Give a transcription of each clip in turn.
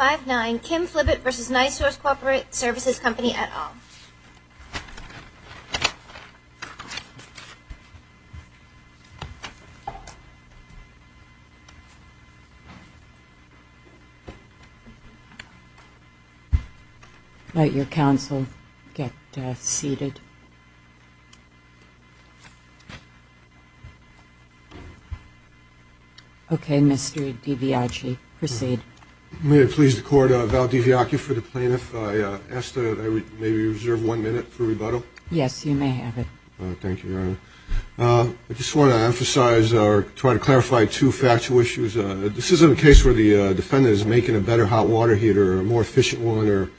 et al. Let your counsel get seated. Okay, Mr. DiBiaggi, proceed. Thank you. I'm very pleased to court Val DiBiaggi for the plaintiff. I ask that I maybe reserve one minute for rebuttal. Yes, you may have it. Thank you, Your Honor. I just want to emphasize or try to clarify two factual issues. This isn't a case where the defendant is making a better hot water heater or a more efficient one or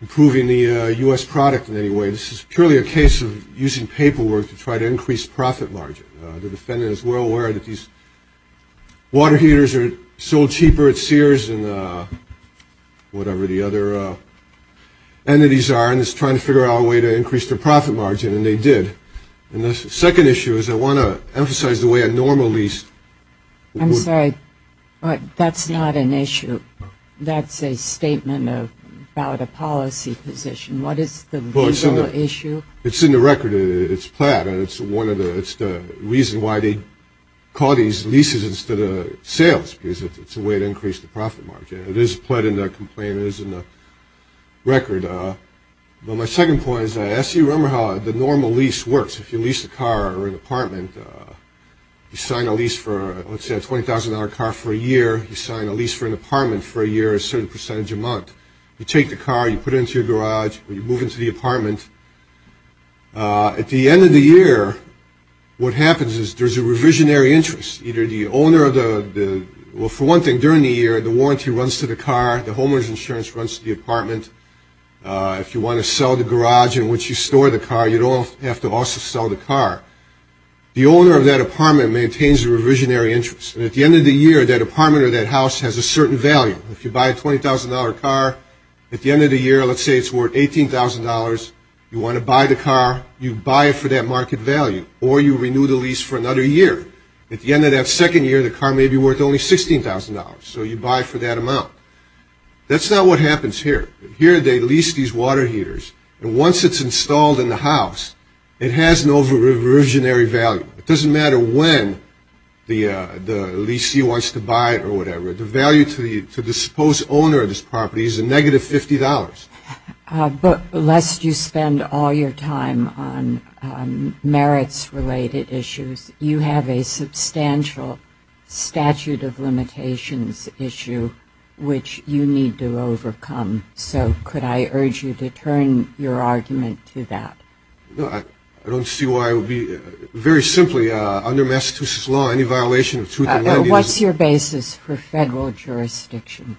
improving the U.S. product in any way. This is purely a case of using paperwork to try to increase profit margin. The defendant is well aware that these water heaters are sold cheaper at Sears than whatever the other entities are, and is trying to figure out a way to increase their profit margin, and they did. And the second issue is I want to emphasize the way a normal lease would work. I'm sorry, that's not an issue. That's a statement about a policy position. What is the legal issue? It's in the record. It's plat, and it's the reason why they call these leases instead of sales, because it's a way to increase the profit margin. It is plat in the complaint. It is in the record. But my second point is I ask you to remember how the normal lease works. If you lease a car or an apartment, you sign a lease for, let's say, a $20,000 car for a year, you sign a lease for an apartment for a year a certain percentage a month. You take the car, you put it into your garage, and you move into the apartment. At the end of the year, what happens is there's a revisionary interest. Either the owner of the – well, for one thing, during the year, the warranty runs to the car, the homeowner's insurance runs to the apartment. If you want to sell the garage in which you store the car, you don't have to also sell the car. The owner of that apartment maintains a revisionary interest. And at the end of the year, that apartment or that house has a certain value. If you buy a $20,000 car, at the end of the year, let's say it's worth $18,000, you want to buy the car, you buy it for that market value, or you renew the lease for another year. At the end of that second year, the car may be worth only $16,000, so you buy it for that amount. That's not what happens here. Here they lease these water heaters. And once it's installed in the house, it has no revisionary value. It doesn't matter when the leasee wants to buy it or whatever. The value to the supposed owner of this property is a negative $50. But lest you spend all your time on merits-related issues, you have a substantial statute of limitations issue which you need to overcome. So could I urge you to turn your argument to that? No, I don't see why it would be. Very simply, under Massachusetts law, any violation of truth in lending is What is your basis for federal jurisdiction?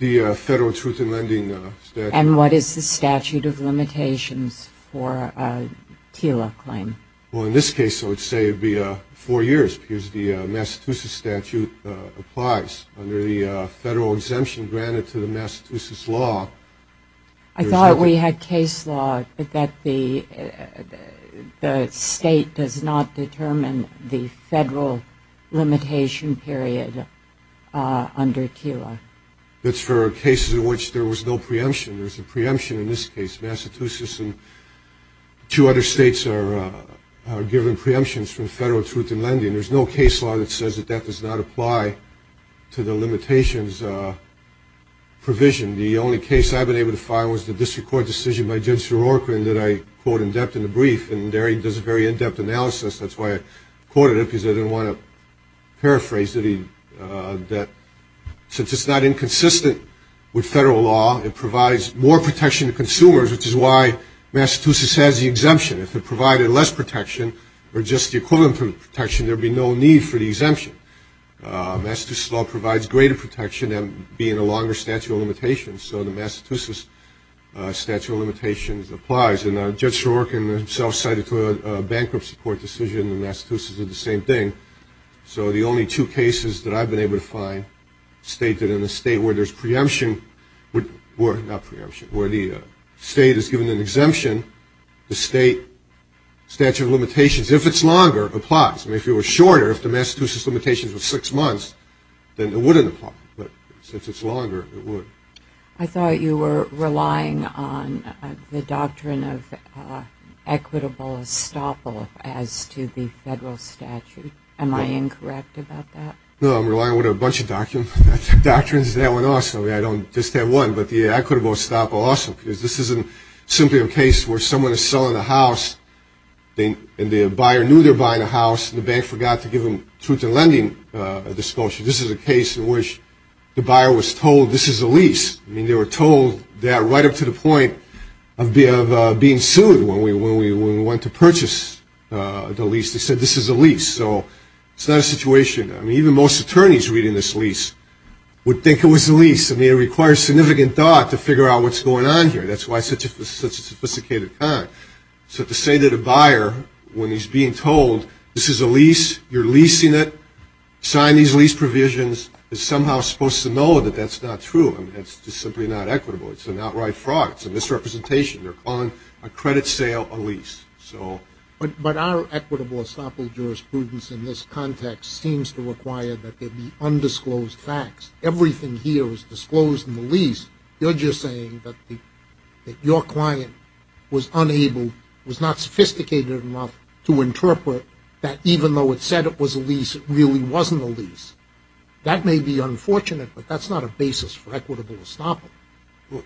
The federal truth in lending statute. And what is the statute of limitations for a TILA claim? Well, in this case, I would say it would be four years, because the Massachusetts statute applies. Under the federal exemption granted to the Massachusetts law, there is no But that the state does not determine the federal limitation period under TILA. That's for cases in which there was no preemption. There's a preemption in this case. Massachusetts and two other states are given preemptions from federal truth in lending. There's no case law that says that that does not apply to the limitations provision. The only case I've been able to find was the district court decision by Judge Sierorka, and that I quote in depth in the brief. And there he does a very in-depth analysis. That's why I quoted it, because I didn't want to paraphrase it. Since it's not inconsistent with federal law, it provides more protection to consumers, which is why Massachusetts has the exemption. If it provided less protection or just the equivalent protection, there would be no need for the exemption. Massachusetts law provides greater protection than being a longer statute of limitations, so the Massachusetts statute of limitations applies. And Judge Sierorka himself cited a bankruptcy court decision, and Massachusetts did the same thing. So the only two cases that I've been able to find state that in a state where there's preemption, where the state is given an exemption, the state statute of limitations, if it's longer, applies. I mean, if it were shorter, if the Massachusetts limitations were six months, then it wouldn't apply. But since it's longer, it would. I thought you were relying on the doctrine of equitable estoppel as to the federal statute. Am I incorrect about that? No, I'm relying on a bunch of doctrines. That one also, I don't just have one, but the equitable estoppel also, because this isn't simply a case where someone is selling a house, and the buyer knew they were buying a house, and the bank forgot to give them truth in lending disclosure. This is a case in which the buyer was told, this is a lease. I mean, they were told that right up to the point of being sued when we went to purchase the lease. They said, this is a lease. So it's not a situation, I mean, even most attorneys reading this lease would think it was a lease. I mean, it requires significant thought to figure out what's going on here. That's why it's such a sophisticated time. So to say that a buyer, when he's being told, this is a lease, you're leasing it, sign these lease provisions, is somehow supposed to know that that's not true. I mean, that's just simply not equitable. It's an outright fraud. It's a misrepresentation. They're calling a credit sale a lease. But our equitable estoppel jurisprudence in this context seems to require that there be undisclosed facts. Everything here was disclosed in the lease. You're just saying that your client was unable, was not sophisticated enough, to interpret that even though it said it was a lease, it really wasn't a lease. That may be unfortunate, but that's not a basis for equitable estoppel.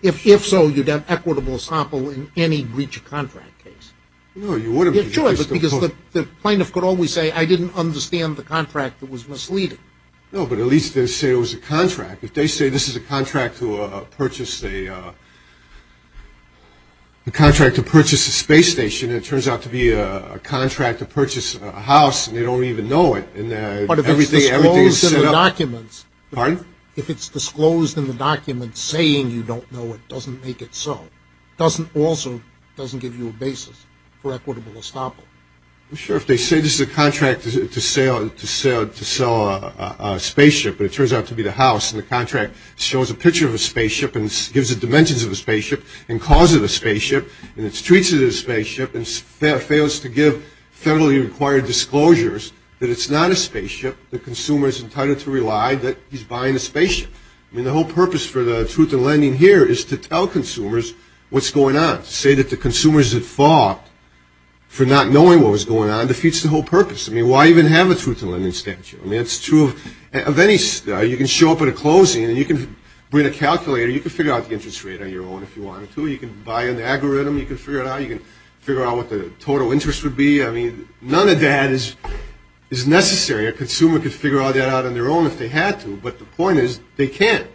If so, you'd have equitable estoppel in any breach of contract case. Sure, because the plaintiff could always say, I didn't understand the contract that was misleading. No, but at least they say it was a contract. If they say this is a contract to purchase a space station, and it turns out to be a contract to purchase a house, and they don't even know it, and everything is set up. But if it's disclosed in the documents saying you don't know it doesn't make it so. It also doesn't give you a basis for equitable estoppel. I'm sure if they say this is a contract to sell a spaceship, and it turns out to be the house, and the contract shows a picture of a spaceship and gives the dimensions of a spaceship, and calls it a spaceship, and it treats it as a spaceship, and fails to give federally required disclosures that it's not a spaceship, the consumer is entitled to rely that he's buying a spaceship. I mean, the whole purpose for the truth in lending here is to tell consumers what's going on, to say that the consumers that fought for not knowing what was going on defeats the whole purpose. I mean, why even have a truth in lending statute? I mean, it's true of any – you can show up at a closing, and you can bring a calculator. You can figure out the interest rate on your own if you wanted to. You can buy an algorithm. You can figure it out. You can figure out what the total interest would be. I mean, none of that is necessary. A consumer could figure all that out on their own if they had to, but the point is they can't.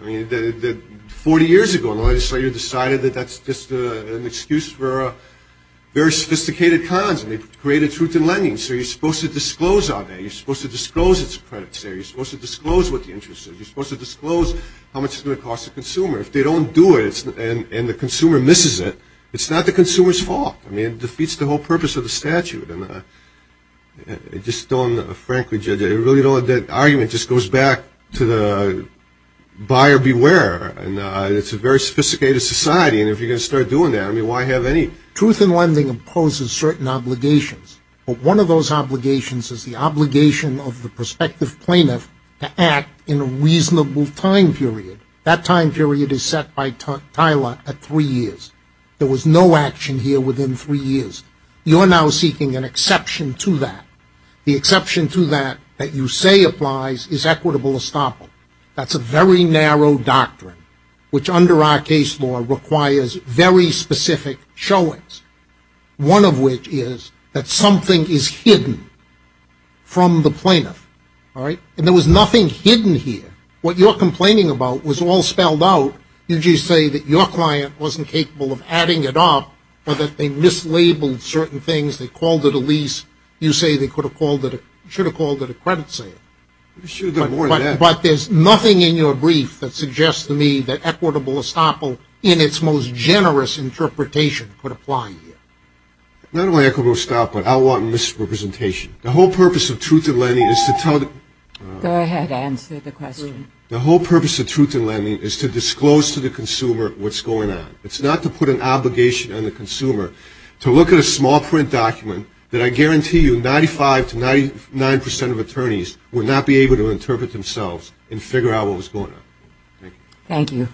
I mean, 40 years ago, the legislature decided that that's just an excuse for very sophisticated cons, and they created truth in lending. So you're supposed to disclose all that. You're supposed to disclose its credits there. You're supposed to disclose what the interest is. You're supposed to disclose how much it's going to cost the consumer. If they don't do it and the consumer misses it, it's not the consumer's fault. I mean, it defeats the whole purpose of the statute, and I just don't, frankly, judge it. I really don't. That argument just goes back to the buyer beware, and it's a very sophisticated society, and if you're going to start doing that, I mean, why have any? Truth in lending imposes certain obligations, but one of those obligations is the obligation of the prospective plaintiff to act in a reasonable time period. That time period is set by Tyler at three years. There was no action here within three years. You're now seeking an exception to that. The exception to that that you say applies is equitable estoppel. That's a very narrow doctrine, which under our case law requires very specific showings, one of which is that something is hidden from the plaintiff, all right? And there was nothing hidden here. What you're complaining about was all spelled out. You just say that your client wasn't capable of adding it up or that they mislabeled certain things. They called it a lease. You say they should have called it a credit sale. But there's nothing in your brief that suggests to me that equitable estoppel, in its most generous interpretation, could apply here. Not only equitable estoppel, I want misrepresentation. The whole purpose of truth in lending is to tell the — Go ahead. Answer the question. The whole purpose of truth in lending is to disclose to the consumer what's going on. It's not to put an obligation on the consumer to look at a small print document that I guarantee you 95 to 99 percent of attorneys would not be able to interpret themselves and figure out what was going on. Thank you. Thank you.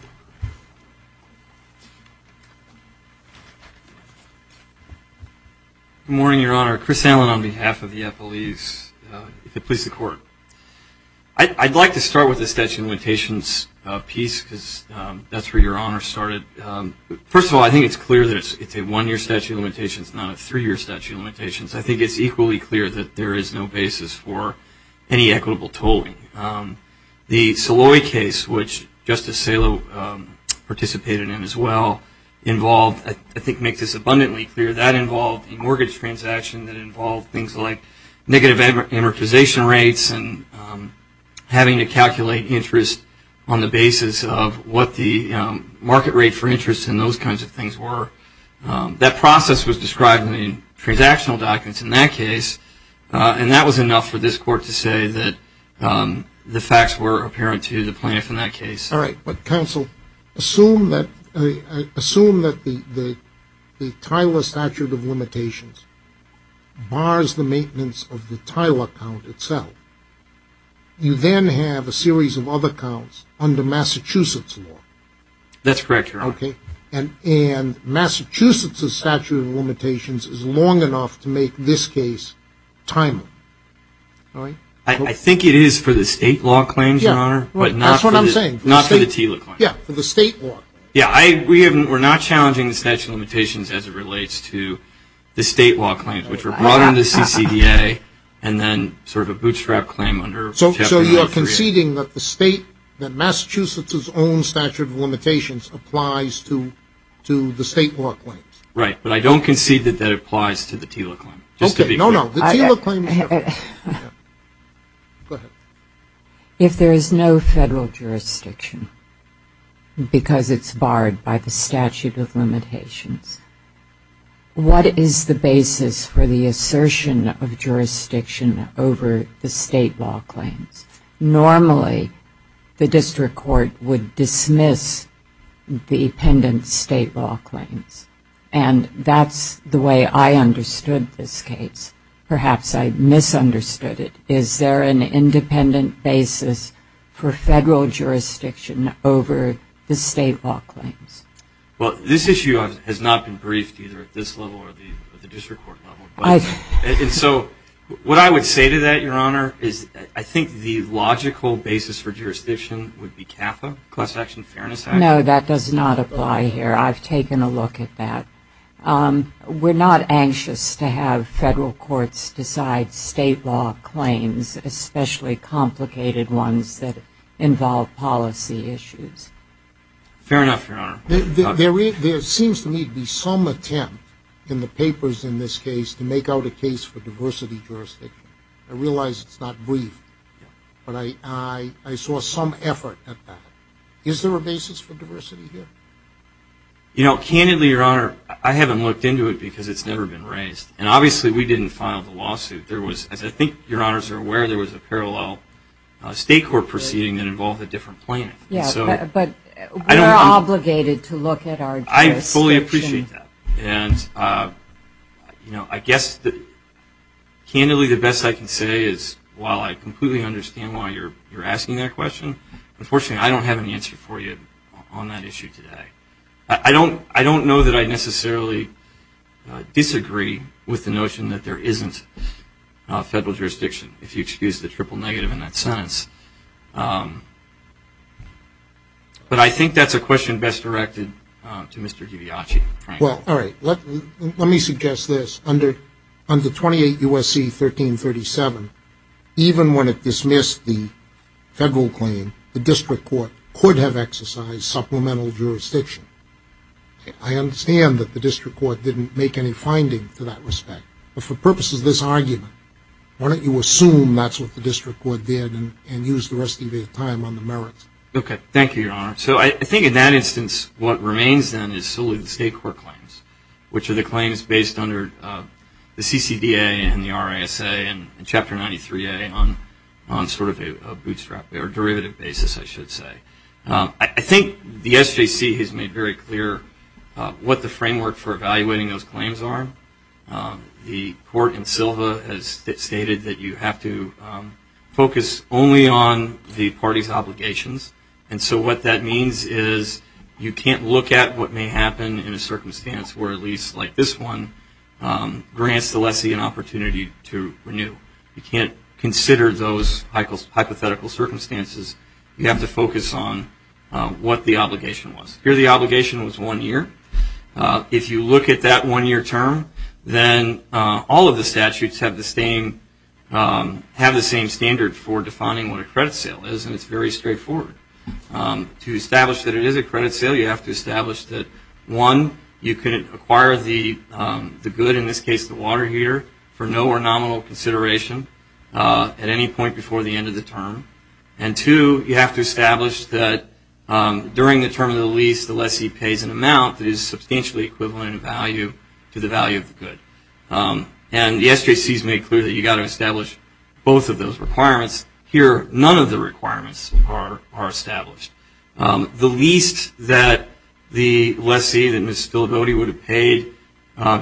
Good morning, Your Honor. Chris Allen on behalf of the FLEs. If it pleases the Court. I'd like to start with the statute of limitations piece because that's where Your Honor started. First of all, I think it's clear that it's a one-year statute of limitations, not a three-year statute of limitations. I think it's equally clear that there is no basis for any equitable tolling. The Saloy case, which Justice Salo participated in as well, involved, I think makes this abundantly clear, that involved a mortgage transaction that involved things like negative amortization rates and having to calculate interest on the basis of what the market rate for interest and those kinds of things were. That process was described in the transactional documents in that case, and that was enough for this Court to say that the facts were apparent to the plaintiff in that case. All right. But, counsel, assume that the Tyler statute of limitations bars the maintenance of the Tyler account itself. You then have a series of other accounts under Massachusetts law. That's correct, Your Honor. Okay. And Massachusetts' statute of limitations is long enough to make this case timely. All right. I think it is for the state law claims, Your Honor. Yeah. That's what I'm saying. Not for the TILA claims. Yeah. For the state law. Yeah. We're not challenging the statute of limitations as it relates to the state law claims, which were brought under the CCDA and then sort of a bootstrap claim under Chapter 9. You're conceding that the state, that Massachusetts' own statute of limitations applies to the state law claims. Right. But I don't concede that that applies to the TILA claim. Just to be clear. Okay. No, no. The TILA claim is different. Go ahead. If there is no federal jurisdiction because it's barred by the statute of limitations, what is the basis for the assertion of jurisdiction over the state law claims? Normally, the district court would dismiss the pendent state law claims. And that's the way I understood this case. Perhaps I misunderstood it. Is there an independent basis for federal jurisdiction over the state law claims? Well, this issue has not been briefed either at this level or the district court level. And so what I would say to that, Your Honor, is I think the logical basis for jurisdiction would be CAFA, Class Action Fairness Act. No, that does not apply here. I've taken a look at that. We're not anxious to have federal courts decide state law claims, especially complicated ones that involve policy issues. Fair enough, Your Honor. There seems to me to be some attempt in the papers in this case to make out a case for diversity jurisdiction. I realize it's not brief, but I saw some effort at that. Is there a basis for diversity here? You know, candidly, Your Honor, I haven't looked into it because it's never been raised. And obviously we didn't file the lawsuit. As I think Your Honors are aware, there was a parallel state court proceeding that involved a different plaintiff. Yeah, but we're obligated to look at our jurisdiction. I fully appreciate that. And, you know, I guess candidly the best I can say is while I completely understand why you're asking that question, unfortunately I don't have an answer for you on that issue today. I don't know that I necessarily disagree with the notion that there isn't federal jurisdiction, if you excuse the triple negative in that sentence. But I think that's a question best directed to Mr. Giviacci. Well, all right, let me suggest this. Under 28 U.S.C. 1337, even when it dismissed the federal claim, the district court could have exercised supplemental jurisdiction. I understand that the district court didn't make any finding to that respect. But for purposes of this argument, why don't you assume that's what the district court did and use the rest of your time on the merits? Thank you, Your Honor. So I think in that instance what remains then is solely the state court claims, which are the claims based under the CCDA and the RISA and Chapter 93A on sort of a bootstrap, or derivative basis I should say. I think the SJC has made very clear what the framework for evaluating those claims are. The court in Silva has stated that you have to focus only on the party's obligations. And so what that means is you can't look at what may happen in a circumstance where at least like this one grants the lessee an opportunity to renew. You can't consider those hypothetical circumstances. You have to focus on what the obligation was. Here the obligation was one year. If you look at that one-year term, then all of the statutes have the same standard for defining what a credit sale is, and it's very straightforward. To establish that it is a credit sale, you have to establish that, one, you can acquire the good, in this case the water heater, for no or nominal consideration at any point before the end of the term. And, two, you have to establish that during the term of the lease the lessee pays an amount that is substantially equivalent in value to the value of the good. And the SJC has made clear that you've got to establish both of those requirements. Here none of the requirements are established. The lease that the lessee, that Ms. Spillabody, would have paid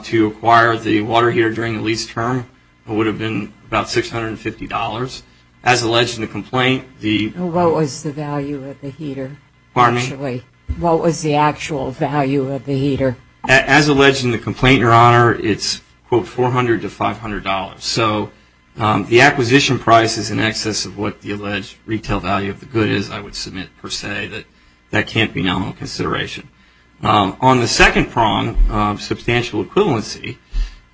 to acquire the water heater during the lease term would have been about $650. As alleged in the complaint, the- What was the value of the heater? Pardon me? What was the actual value of the heater? As alleged in the complaint, Your Honor, it's, quote, $400 to $500. So the acquisition price is in excess of what the alleged retail value of the good is, I would submit, per se. That can't be nominal consideration. On the second prong, substantial equivalency,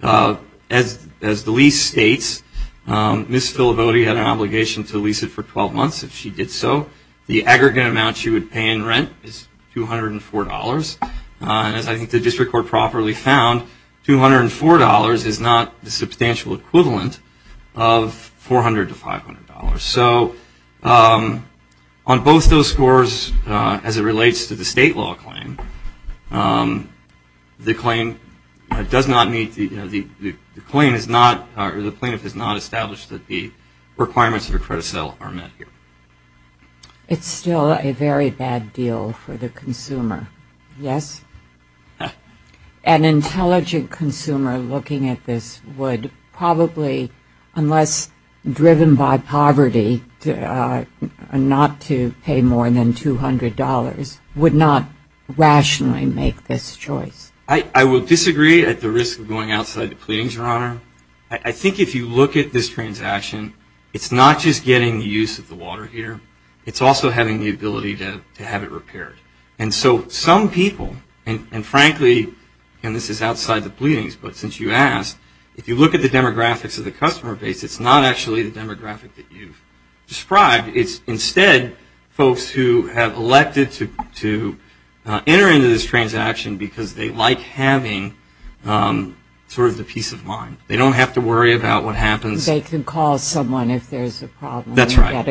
as the lease states, Ms. Spillabody had an obligation to lease it for 12 months if she did so. The aggregate amount she would pay in rent is $204. And as I think the district court properly found, $204 is not the substantial equivalent of $400 to $500. So on both those scores, as it relates to the state law claim, the claim does not meet the- The claim is not- The plaintiff has not established that the requirements of a credit sale are met here. It's still a very bad deal for the consumer. Yes? An intelligent consumer looking at this would probably, unless driven by poverty, not to pay more than $200, would not rationally make this choice. I would disagree at the risk of going outside the pleadings, Your Honor. I think if you look at this transaction, it's not just getting the use of the water heater. It's also having the ability to have it repaired. And so some people, and frankly, and this is outside the pleadings, but since you asked, if you look at the demographics of the customer base, it's not actually the demographic that you've described. It's instead folks who have elected to enter into this transaction because they like having sort of the peace of mind. They don't have to worry about what happens. They can call someone if there's a problem. That's right.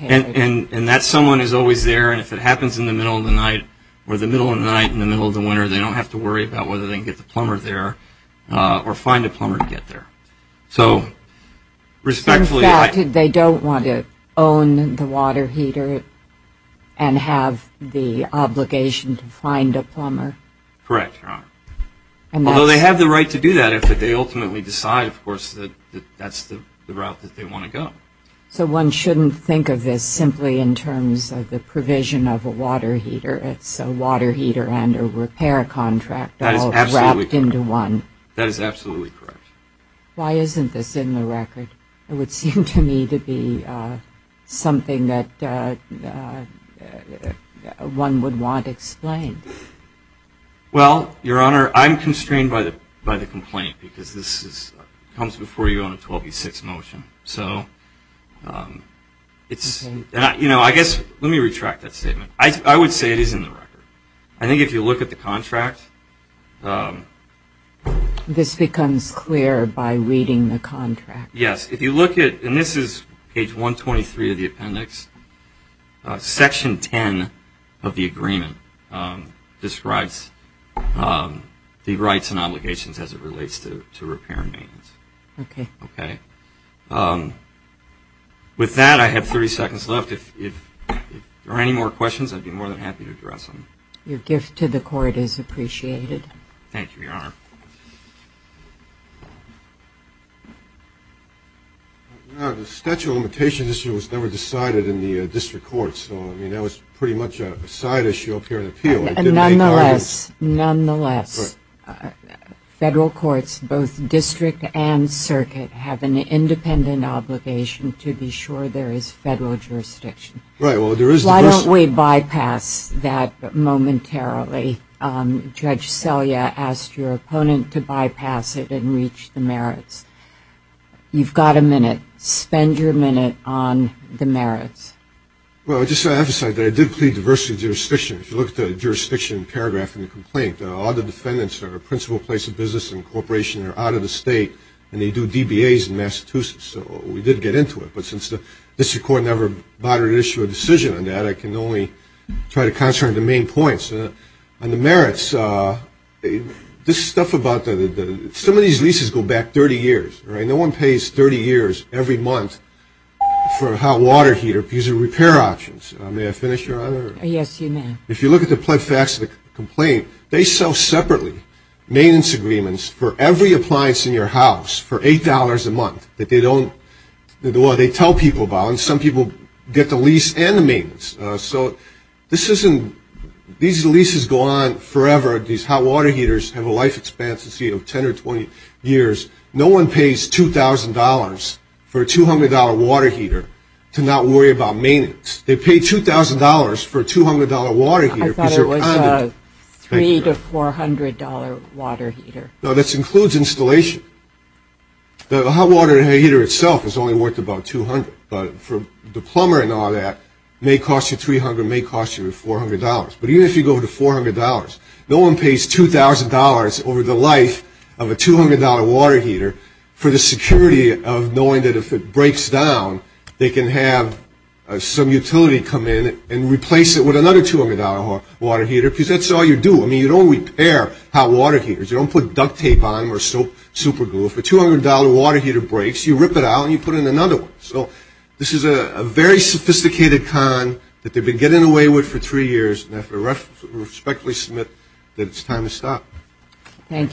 And that someone is always there. And if it happens in the middle of the night or the middle of the night, in the middle of the winter, they don't have to worry about whether they can get the plumber there or find a plumber to get there. So respectfully they don't want to own the water heater and have the obligation to find a plumber. Correct, Your Honor. Although they have the right to do that if they ultimately decide, of course, that that's the route that they want to go. So one shouldn't think of this simply in terms of the provision of a water heater. It's a water heater and a repair contract all wrapped into one. That is absolutely correct. Why isn't this in the record? It would seem to me to be something that one would want explained. Well, Your Honor, I'm constrained by the complaint because this comes before you on a 12v6 motion. So it's, you know, I guess let me retract that statement. I would say it is in the record. I think if you look at the contract. This becomes clear by reading the contract. Yes, if you look at, and this is page 123 of the appendix, section 10 of the agreement describes the rights and obligations as it relates to repair and maintenance. Okay. Okay. With that, I have 30 seconds left. If there are any more questions, I'd be more than happy to address them. Your gift to the court is appreciated. Thank you, Your Honor. The statute of limitations issue was never decided in the district court. So, I mean, that was pretty much a side issue up here in the appeal. Nonetheless, federal courts, both district and circuit, have an independent obligation to be sure there is federal jurisdiction. Why don't we bypass that momentarily? Judge Selye asked your opponent to bypass it and reach the merits. You've got a minute. Spend your minute on the merits. Well, just to emphasize that I did plead diversity of jurisdiction. If you look at the jurisdiction paragraph in the complaint, all the defendants are a principal place of business and corporation. They're out of the state, and they do DBAs in Massachusetts. So we did get into it. But since the district court never bothered to issue a decision on that, I can only try to concentrate on the main points. On the merits, this stuff about the – some of these leases go back 30 years. No one pays 30 years every month for a hot water heater because of repair options. May I finish, Your Honor? Yes, you may. If you look at the pled facts of the complaint, they sell separately maintenance agreements for every appliance in your house for $8 a month that they don't – well, they tell people about. And some people get the lease and the maintenance. So this isn't – these leases go on forever. These hot water heaters have a life expectancy of 10 or 20 years. No one pays $2,000 for a $200 water heater to not worry about maintenance. They pay $2,000 for a $200 water heater because you're – I thought it was a $300 to $400 water heater. No, this includes installation. The hot water heater itself is only worth about $200. But for the plumber and all that, may cost you $300, may cost you $400. But even if you go to $400, no one pays $2,000 over the life of a $200 water heater for the security of knowing that if it breaks down, they can have some utility come in and replace it with another $200 water heater because that's all you do. I mean, you don't repair hot water heaters. You don't put duct tape on them or super glue. If a $200 water heater breaks, you rip it out and you put in another one. So this is a very sophisticated con that they've been getting away with for three years. And I respectfully submit that it's time to stop. Thank you.